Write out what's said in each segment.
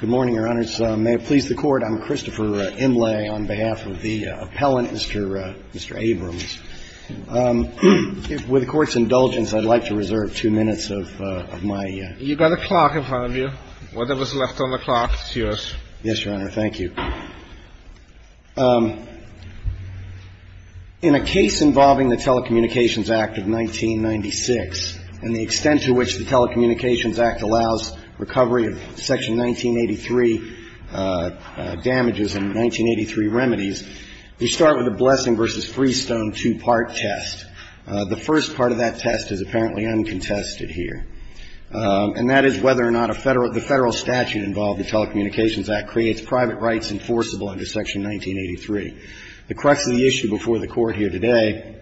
Good morning, Your Honors. May it please the Court, I'm Christopher Imlay on behalf of the appellant, Mr. Abrams. With the Court's indulgence, I'd like to reserve two minutes of my You've got a clock in front of you. Whatever's left on the clock is yours. Yes, Your Honor. Thank you. In a case involving the Telecommunications Act of 1996, and the extent to which the Telecommunications Act allows recovery of Section 1983 damages and 1983 remedies, we start with a Blessing v. Freestone two-part test. The first part of that test is apparently uncontested here, and that is whether or not the Federal statute involved in the Telecommunications Act creates private rights enforceable under Section 1983. The crux of the issue before the Court here today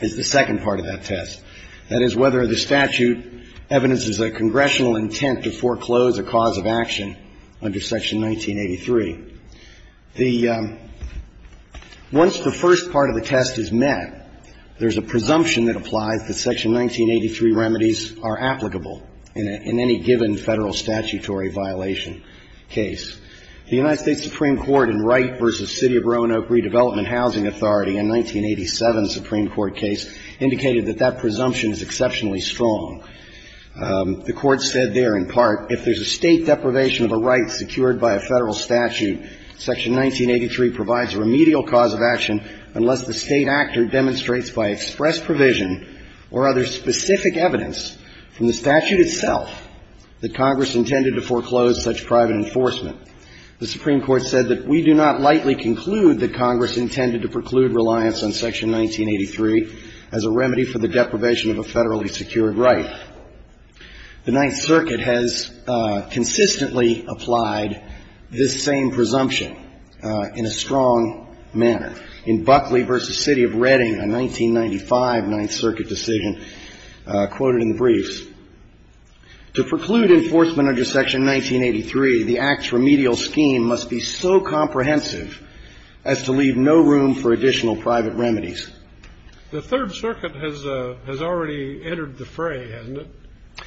is the second part of that test. That is whether the statute evidences a congressional intent to foreclose a cause of action under Section 1983. Once the first part of the test is met, there's a presumption that applies that Section 1983 remedies are applicable in any given Federal statutory violation case. The United States Supreme Court in Wright v. City of Roanoke Redevelopment Housing Authority in 1987's Supreme Court case indicated that that presumption is exceptionally strong. The Court said there, in part, if there's a State deprivation of a right secured by a Federal statute, Section 1983 provides a remedial cause of action unless the State actor demonstrates by express provision or other specific evidence from the statute itself that Congress intended to foreclose such private enforcement. The Supreme Court said that we do not lightly conclude that Congress intended to preclude reliance on Section 1983 as a remedy for the deprivation of a Federally secured right. The Ninth Circuit has consistently applied this same presumption in a strong manner. In Buckley v. City of Reading, a 1995 Ninth Circuit decision quoted in the briefs, to preclude enforcement under Section 1983, the Act's remedial scheme must be so comprehensive as to leave no room for additional private remedies. The Third Circuit has already entered the fray, hasn't it?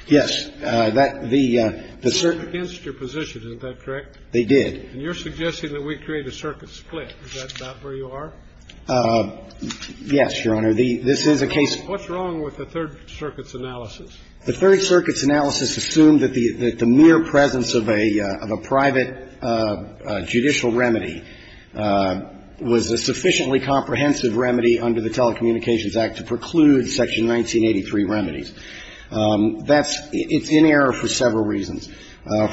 Yes. The Circuit against your position. Isn't that correct? They did. And you're suggesting that we create a circuit split. Is that not where you are? Yes, Your Honor. This is a case of What's wrong with the Third Circuit's analysis? The Third Circuit's analysis assumed that the mere presence of a private judicial remedy was a sufficiently comprehensive remedy under the Telecommunications Act to preclude Section 1983 remedies. That's – it's in error for several reasons.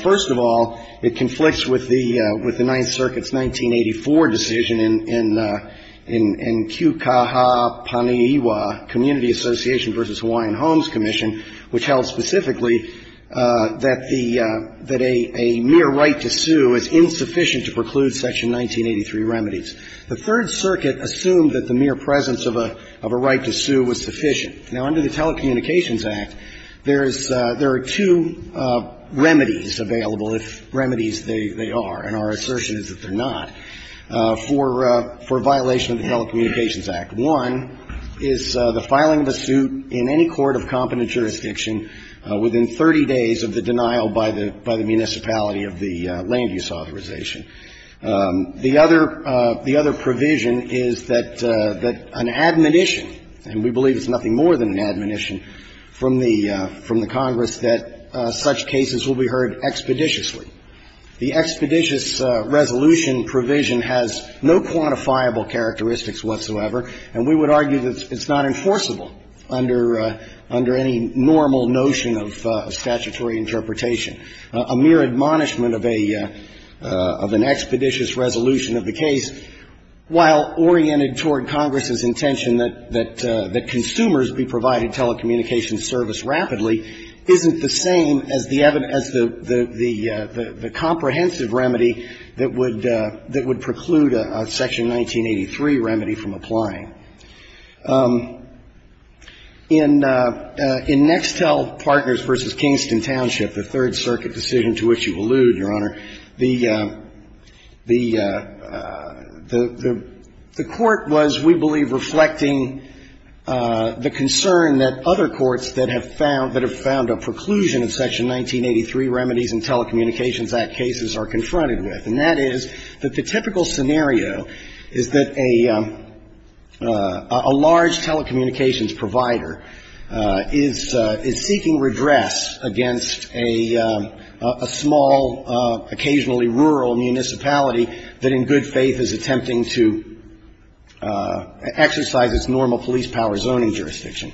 First of all, it conflicts with the – with the Ninth Circuit's 1984 decision in – in Kūkaha Paniiwa, Community Association v. Hawaiian Homes Commission, which held specifically that the – that a – a mere right to sue is insufficient to preclude Section 1983 remedies. The Third Circuit assumed that the mere presence of a – of a right to sue was sufficient. Now, under the Telecommunications Act, there is – there are two remedies available, if remedies they are, and our assertion is that they're not, for – for violation of the Telecommunications Act. One is the filing of a suit in any court of competent jurisdiction within 30 days of the denial by the – by the municipality of the land use authorization. The other – the other provision is that – that an admonition, and we believe it's nothing more than an admonition from the – from the Congress, that such cases will be heard expeditiously. The expeditious resolution provision has no quantifiable characteristics whatsoever, and we would argue that it's not enforceable under – under any normal notion of statutory interpretation. A mere admonishment of a – of an expeditious resolution of the case, while oriented toward Congress's intention that – that consumers be provided telecommunications service rapidly, isn't the same as the evidence – the comprehensive remedy that would – that would preclude a Section 1983 remedy from applying. In – in Nextel Partners v. Kingston Township, the Third Circuit decision to which you allude, Your Honor, the – the – the court was, we believe, reflecting the concern that other courts that have found – that have found a preclusion of Section 1983 remedies in Telecommunications Act cases are confronted with, and that is that the typical scenario is that a – a large telecommunications provider is – is seeking redress against a – a small, occasionally rural municipality that in good faith is attempting to exercise its normal police power zoning jurisdiction.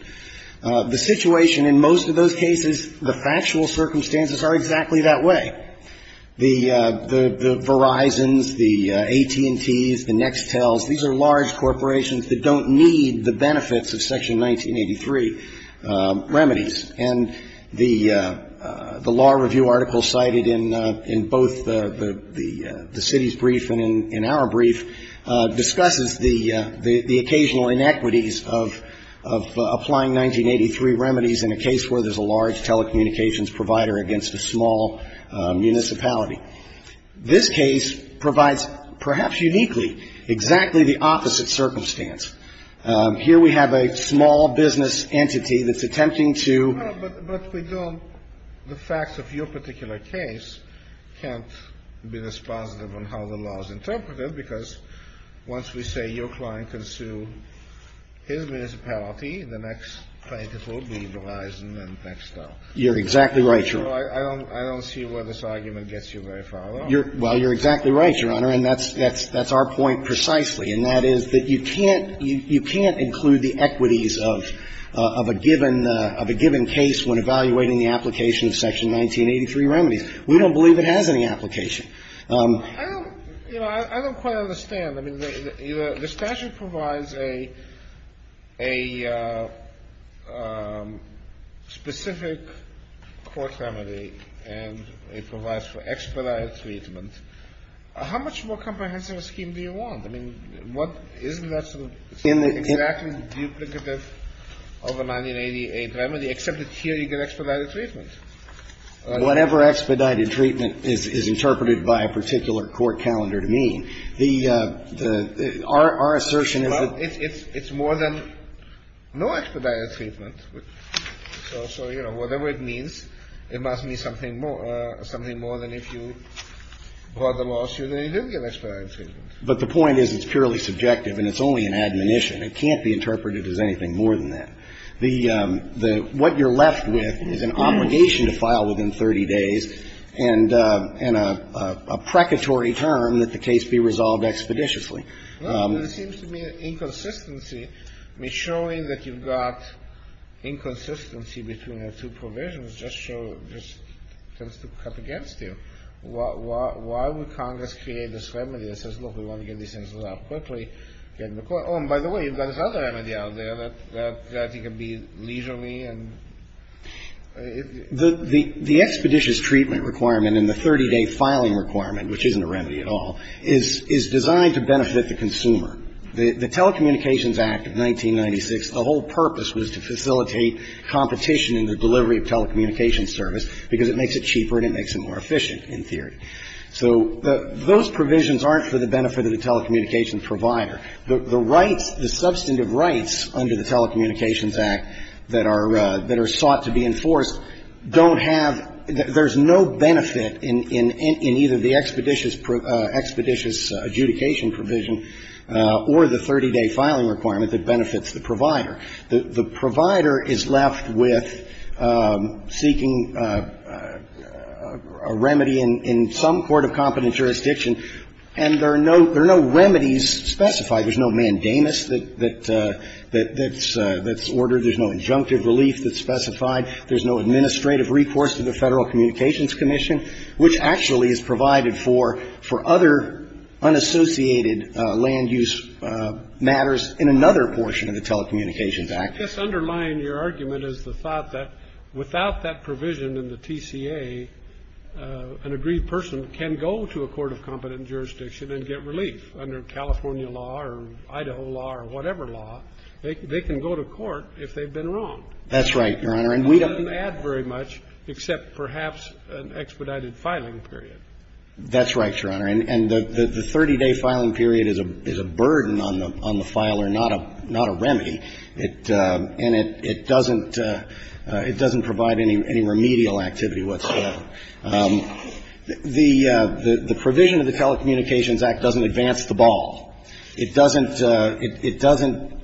The situation in most of those cases, the factual circumstances are exactly that way. The – the – the Verizons, the AT&Ts, the Nextels, these are large corporations that don't need the benefits of Section 1983 remedies. And the – the law review article cited in – in both the – the – the city's brief and in – in our brief discusses the – the occasional inequities of – of applying 1983 remedies in a case where there's a large telecommunications provider against a small municipality. This case provides, perhaps uniquely, exactly the opposite circumstance. Here we have a small business entity that's attempting to – But – but we don't – the facts of your particular case can't be this positive on how the law is interpreted, because once we say your client can sue his municipality, the next plaintiff will be Verizon and Nextel. You're exactly right, Your Honor. I don't – I don't see where this argument gets you very far, though. You're – well, you're exactly right, Your Honor, and that's – that's – that's our point precisely, and that is that you can't – you can't include the equities of – of a given – of a given case when evaluating the application of Section 1983 remedies. We don't believe it has any application. I don't – you know, I don't quite understand. I mean, the statute provides a – a specific court remedy, and it provides for expedited treatment. How much more comprehensive a scheme do you want? I mean, what – isn't that sort of exactly duplicative of a 1988 remedy, except that here you get expedited treatment? Whatever expedited treatment is – is interpreted by a particular court calendar to mean, the – the – our – our assertion is that – Well, it's – it's more than no expedited treatment. So, you know, whatever it means, it must mean something more – something more than if you brought the lawsuit and you didn't get expedited treatment. But the point is it's purely subjective, and it's only an admonition. It can't be interpreted as anything more than that. The – what you're left with is an obligation to file within 30 days and – and a – a precatory term that the case be resolved expeditiously. Well, there seems to be an inconsistency. I mean, showing that you've got inconsistency between the two provisions just shows – just tends to cut against you. Why would Congress create this remedy that says, look, we want to get these things out quickly, get them to court? Oh, and by the way, you've got this other remedy out there that – that you can be leisurely and – The – the – the expeditious treatment requirement and the 30-day filing requirement, which isn't a remedy at all, is – is designed to benefit the consumer. The – the Telecommunications Act of 1996, the whole purpose was to facilitate competition in the delivery of telecommunications service because it makes it cheaper and it makes it more efficient, in theory. So the – those provisions aren't for the benefit of the telecommunications provider. The – the rights – the substantive rights under the Telecommunications Act that are – that are sought to be enforced don't have – there's no benefit in – in – in either the expeditious – expeditious adjudication provision or the 30-day filing requirement that benefits the provider. The – the provider is left with seeking a remedy in – in some court of competent jurisdiction. And there are no – there are no remedies specified. There's no mandamus that – that – that's – that's ordered. There's no injunctive relief that's specified. There's no administrative recourse to the Federal Communications Commission, which actually is provided for – for other unassociated land use matters in another portion of the Telecommunications Act. This undermined your argument as the thought that without that provision in the TCA, an aggrieved person can go to a court of competent jurisdiction and get relief under California law or Idaho law or whatever law. They can go to court if they've been wrong. That's right, Your Honor. And we don't add very much, except perhaps an expedited filing period. That's right, Your Honor. And the – the 30-day filing period is a – is a burden on the – on the filer, not a – not a remedy. It – and it – it doesn't – it doesn't provide any remedial activity whatsoever. The – the provision of the Telecommunications Act doesn't advance the ball. It doesn't – it doesn't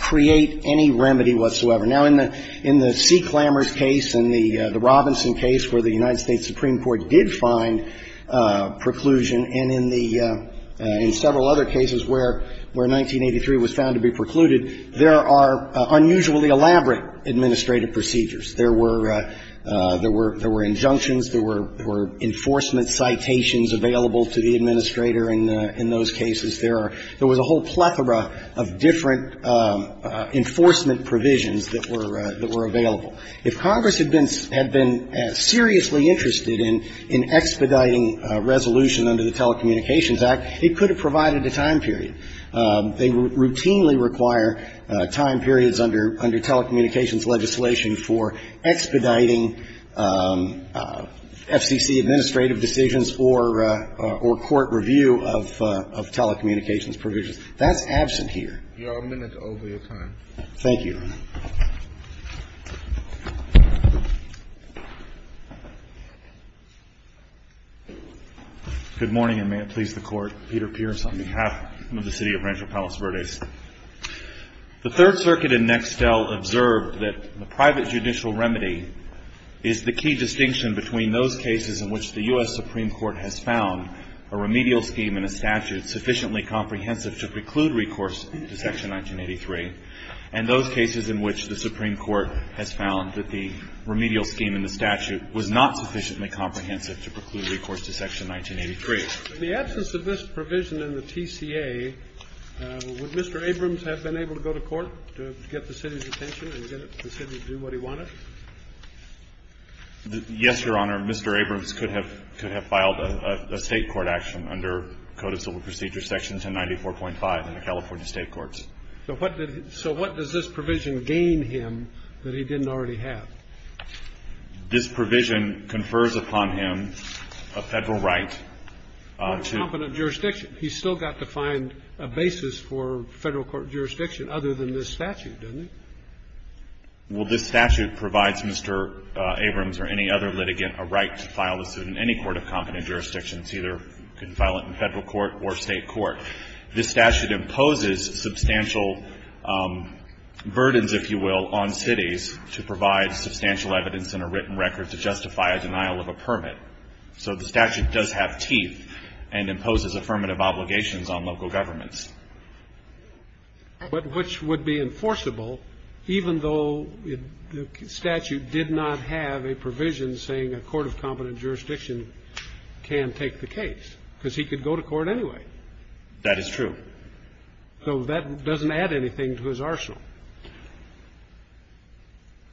create any remedy whatsoever. Now, in the – in the C. Clammers case and the – the Robinson case where the United States Supreme Court did find preclusion, and in the – in several other cases where – where 1983 was found to be precluded, there are unusually elaborate administrative procedures. There were – there were – there were injunctions. There were – there were enforcement citations available to the administrator in the – in those cases. There are – there was a whole plethora of different enforcement provisions that were – that were available. If Congress had been – had been seriously interested in – in expediting resolution under the Telecommunications Act, it could have provided a time period. They routinely require time periods under – under telecommunications legislation for expediting FCC administrative decisions or – or court review of – of telecommunications provisions. That's absent here. You are a minute over your time. Thank you. Good morning, and may it please the Court. I'm Peter Pierce on behalf of the City of Rancho Palos Verdes. The Third Circuit in Nextel observed that the private judicial remedy is the key distinction between those cases in which the U.S. Supreme Court has found a remedial scheme and a statute sufficiently comprehensive to preclude recourse to Section 1983, and those cases in which the Supreme Court has found that the remedial scheme and the statute was not sufficiently comprehensive to preclude recourse to Section 1983. In the absence of this provision in the TCA, would Mr. Abrams have been able to go to court to get the City's attention and get the City to do what he wanted? Yes, Your Honor. Mr. Abrams could have – could have filed a State court action under Code of Civil Procedure Section 1094.5 in the California State courts. So what did – so what does this provision gain him that he didn't already have? This provision confers upon him a Federal right to – A competent jurisdiction. He's still got to find a basis for Federal court jurisdiction other than this statute, doesn't he? Well, this statute provides Mr. Abrams or any other litigant a right to file a suit in any court of competent jurisdiction. It's either you can file it in Federal court or State court. This statute imposes substantial burdens, if you will, on cities to provide substantial evidence in a written record to justify a denial of a permit. So the statute does have teeth and imposes affirmative obligations on local governments. But which would be enforceable even though the statute did not have a provision saying a court of competent jurisdiction can take the case, because he could go to court anyway? That is true. So that doesn't add anything to his arsenal.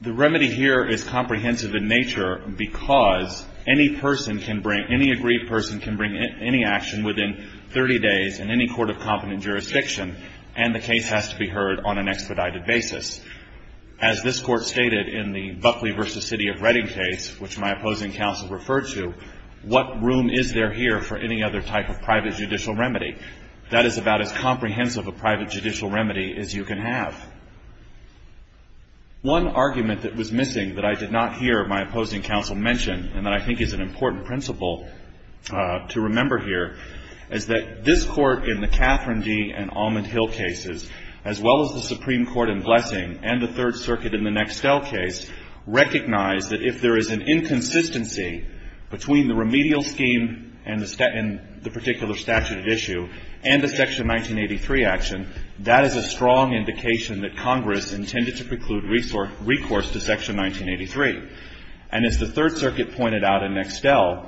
The remedy here is comprehensive in nature because any person can bring – any agreed person can bring any action within 30 days in any court of competent jurisdiction, and the case has to be heard on an expedited basis. As this Court stated in the Buckley v. City of Reading case, which my opposing counsel referred to, what room is there here for any other type of private judicial remedy? That is about as comprehensive a private judicial remedy as you can have. One argument that was missing that I did not hear my opposing counsel mention and that I think is an important principle to remember here is that this Court in the Catherine D. and Almond Hill cases, as well as the Supreme Court in Blessing and the Third Circuit in the Nextel case, recognized that if there is an inconsistency between the remedial scheme and the particular statute at issue and the Section 1983 action, that is a strong indication that Congress intended to preclude recourse to Section 1983. And as the Third Circuit pointed out in Nextel,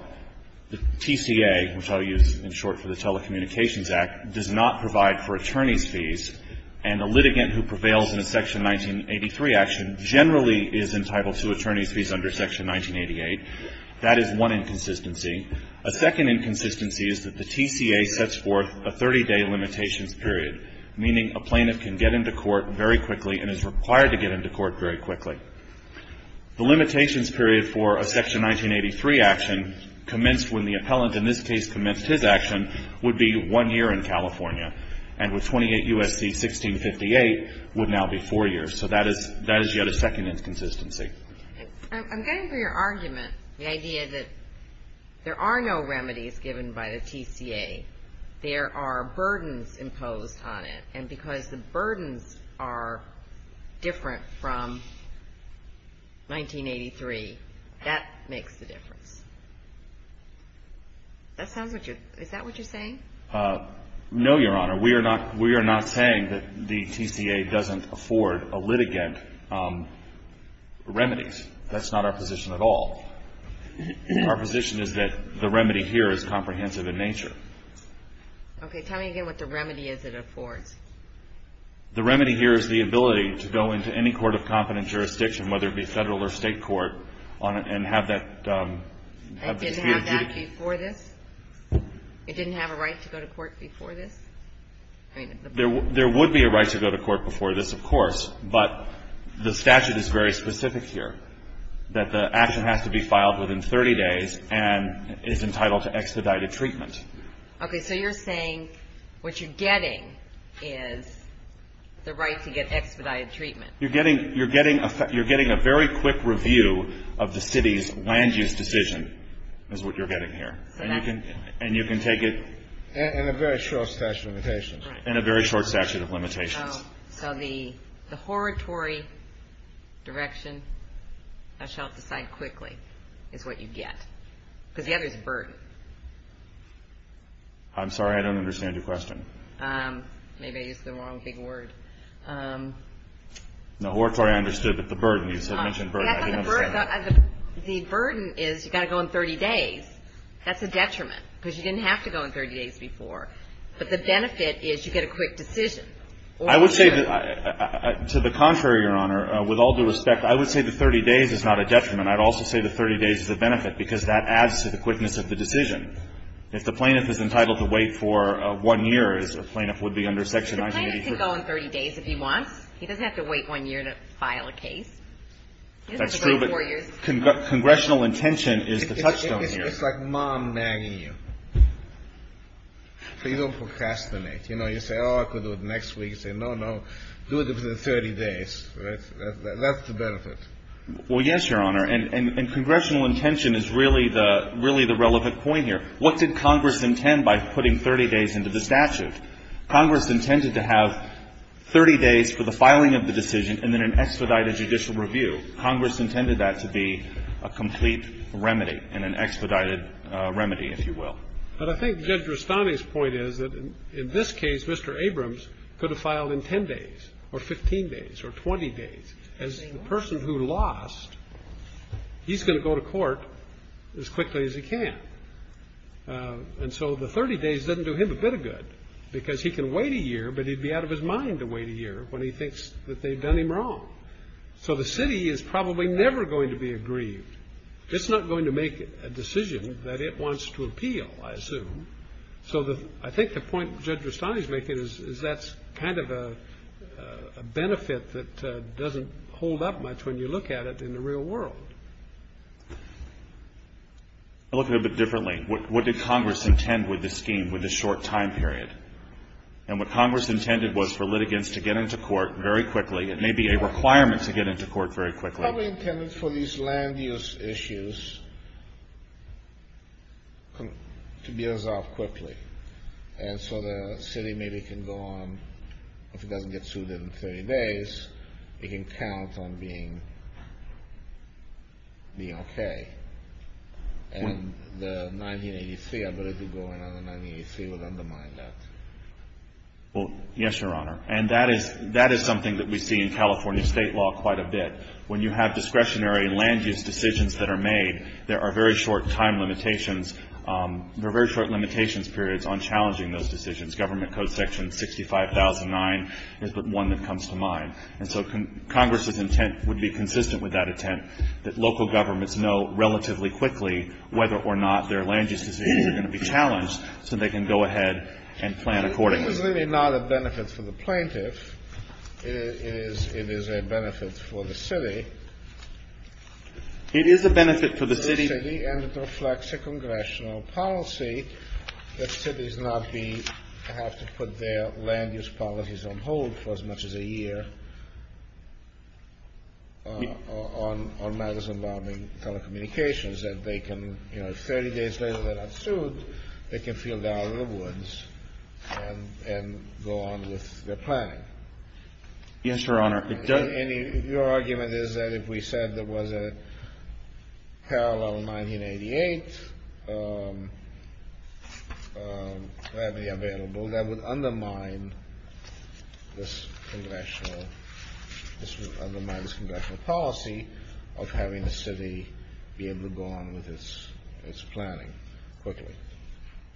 the TCA, which I'll use in short for the Telecommunications Act, does not provide for attorneys' fees, and a litigant who prevails in a Section 1983 action generally is entitled to attorneys' fees under Section 1988. That is one inconsistency. A second inconsistency is that the TCA sets forth a 30-day limitations period, meaning a plaintiff can get into court very quickly and is required to get into court very quickly. The limitations period for a Section 1983 action commenced when the appellant in this case commenced his action would be one year in California, and with 28 U.S.C. 1658 would now be four years. So that is yet a second inconsistency. I'm getting to your argument, the idea that there are no remedies given by the TCA. There are burdens imposed on it. And because the burdens are different from 1983, that makes the difference. Is that what you're saying? No, Your Honor. We are not saying that the TCA doesn't afford a litigant remedies. That's not our position at all. Our position is that the remedy here is comprehensive in nature. Okay. Tell me again what the remedy is it affords. The remedy here is the ability to go into any court of competent jurisdiction, whether it be federal or state court, and have that dispute. It didn't have that before this? It didn't have a right to go to court before this? There would be a right to go to court before this, of course. But the statute is very specific here, that the action has to be filed within 30 days and is entitled to expedited treatment. Okay. So you're saying what you're getting is the right to get expedited treatment. You're getting a very quick review of the city's land use decision is what you're getting here. And you can take it? In a very short statute of limitations. In a very short statute of limitations. So the oratory direction, how shall it decide quickly, is what you get. Because the other is burden. I'm sorry, I don't understand your question. Maybe I used the wrong big word. No, oratory I understood, but the burden, you mentioned burden, I didn't understand. The burden is you've got to go in 30 days. That's a detriment, because you didn't have to go in 30 days before. But the benefit is you get a quick decision. I would say, to the contrary, Your Honor, with all due respect, I would say the 30 days is not a detriment. I would also say the 30 days is a benefit, because that adds to the quickness of the decision. If the plaintiff is entitled to wait for one year, as a plaintiff would be under Section 983. The plaintiff can go in 30 days if he wants. He doesn't have to wait one year to file a case. That's true, but congressional intention is the touchstone here. It's like mom nagging you. So you don't procrastinate. You know, you say, oh, I could do it next week. You say, no, no, do it within 30 days. That's the benefit. Well, yes, Your Honor. And congressional intention is really the relevant point here. What did Congress intend by putting 30 days into the statute? Congress intended to have 30 days for the filing of the decision and then an expedited judicial review. Congress intended that to be a complete remedy and an expedited remedy, if you will. But I think Judge Rustani's point is that in this case, Mr. Abrams could have filed in 10 days or 15 days or 20 days. As the person who lost, he's going to go to court as quickly as he can. And so the 30 days doesn't do him a bit of good, because he can wait a year, but he'd be out of his mind to wait a year when he thinks that they've done him wrong. So the city is probably never going to be aggrieved. It's not going to make a decision that it wants to appeal, I assume. So I think the point Judge Rustani's making is that's kind of a benefit that doesn't hold up much when you look at it in the real world. I look at it a bit differently. What did Congress intend with the scheme, with the short time period? And what Congress intended was for litigants to get into court very quickly. It may be a requirement to get into court very quickly. Probably intended for these land use issues to be resolved quickly. And so the city maybe can go on, if it doesn't get sued in 30 days, it can count on being okay. And the 1983, I believe it's going on in 1983, would undermine that. Well, yes, Your Honor. And that is something that we see in California state law quite a bit. When you have discretionary land use decisions that are made, there are very short time limitations. There are very short limitations periods on challenging those decisions. Government Code section 65,009 is the one that comes to mind. And so Congress's intent would be consistent with that intent, that local governments know relatively quickly whether or not their land use decisions are going to be challenged so they can go ahead and plan accordingly. It is really not a benefit for the plaintiff. It is a benefit for the city. It is a benefit for the city. And it reflects a congressional policy that cities not be, have to put their land use policies on hold for as much as a year on magazine bombing telecommunications, that they can, you know, if 30 days later they're not sued, they can feel down in the woods and go on with their planning. Yes, Your Honor. And your argument is that if we said there was a parallel 1988 that would be available, that would undermine this congressional, this would undermine this congressional policy of having the city be able to go on with its planning quickly.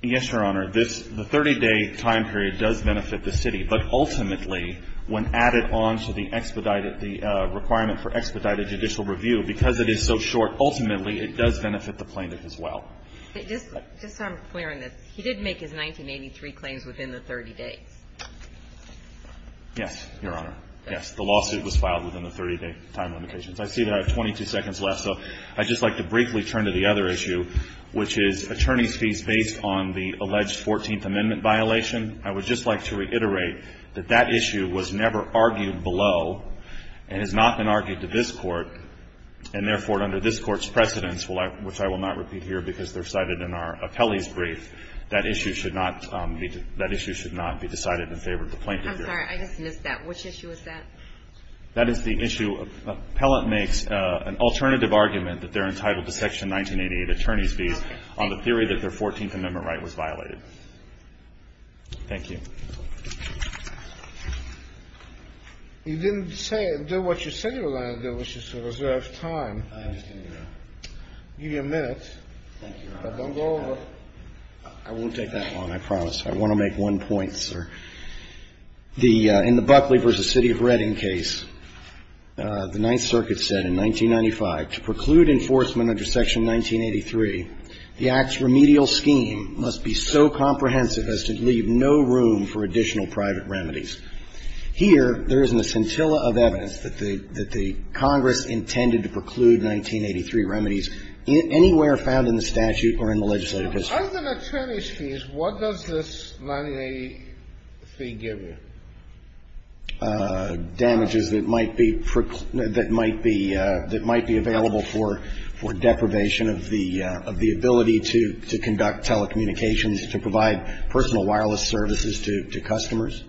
Yes, Your Honor. This, the 30-day time period does benefit the city. But ultimately, when added on to the expedited, the requirement for expedited judicial review, because it is so short, ultimately it does benefit the plaintiff as well. Just so I'm clear on this, he did make his 1983 claims within the 30 days. Yes, Your Honor. Yes. The lawsuit was filed within the 30-day time limitations. I see that I have 22 seconds left, so I'd just like to briefly turn to the other issue, which is attorney's fees based on the alleged 14th Amendment violation. I would just like to reiterate that that issue was never argued below and has not been argued to this Court, and therefore under this Court's precedence, which I will not be here because they're cited in our appellee's brief, that issue should not be decided in favor of the plaintiff here. I'm sorry. I just missed that. Which issue is that? That is the issue. Appellant makes an alternative argument that they're entitled to Section 1988 attorney's fees on the theory that their 14th Amendment right was violated. Thank you. You didn't say, do what you said you were going to do, which is to reserve time. I understand, Your Honor. I'll give you a minute. Thank you, Your Honor. Don't go over. I won't take that long, I promise. I want to make one point, sir. In the Buckley v. City of Reading case, the Ninth Circuit said in 1995, to preclude enforcement under Section 1983, the Act's remedial scheme must be so comprehensive as to leave no room for additional private remedies. Here, there is a scintilla of evidence that the Congress intended to preclude 1983 remedies anywhere found in the statute or in the legislative history. Under the attorney's fees, what does this 1983 give you? Damages that might be available for deprivation of the ability to conduct telecommunications, to provide personal wireless services to customers,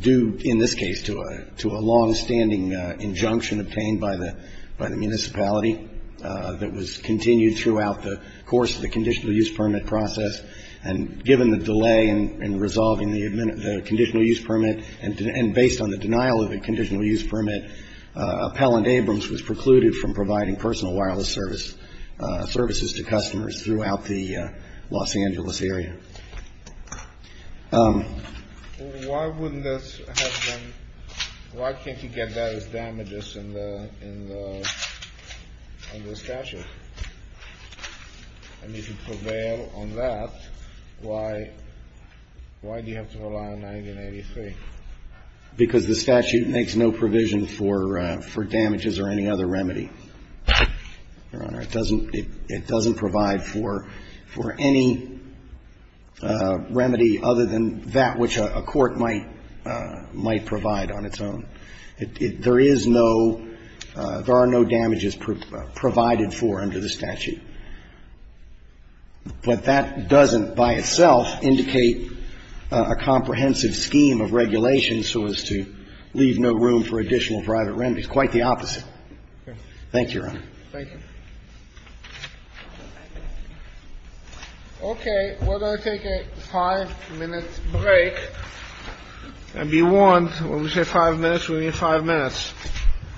due in this case to a longstanding injunction obtained by the municipality that was continued throughout the course of the conditional use permit process, and given the delay in resolving the conditional use permit and based on the denial of the conditional use permit, Appellant Abrams was precluded from providing personal wireless services to customers throughout the Los Angeles area. Why wouldn't this have been, why can't you get those damages in the statute? And if you prevail on that, why do you have to rely on 1983? Because the statute makes no provision for damages or any other remedy, Your Honor. It doesn't, it doesn't provide for any remedy other than that which a court might provide on its own. There is no, there are no damages provided for under the statute. But that doesn't by itself indicate a comprehensive scheme of regulations so as to leave no room for additional private remedies, quite the opposite. Thank you, Your Honor. Thank you. Okay, we're going to take a five-minute break. And be warned, when we say five minutes, we mean five minutes.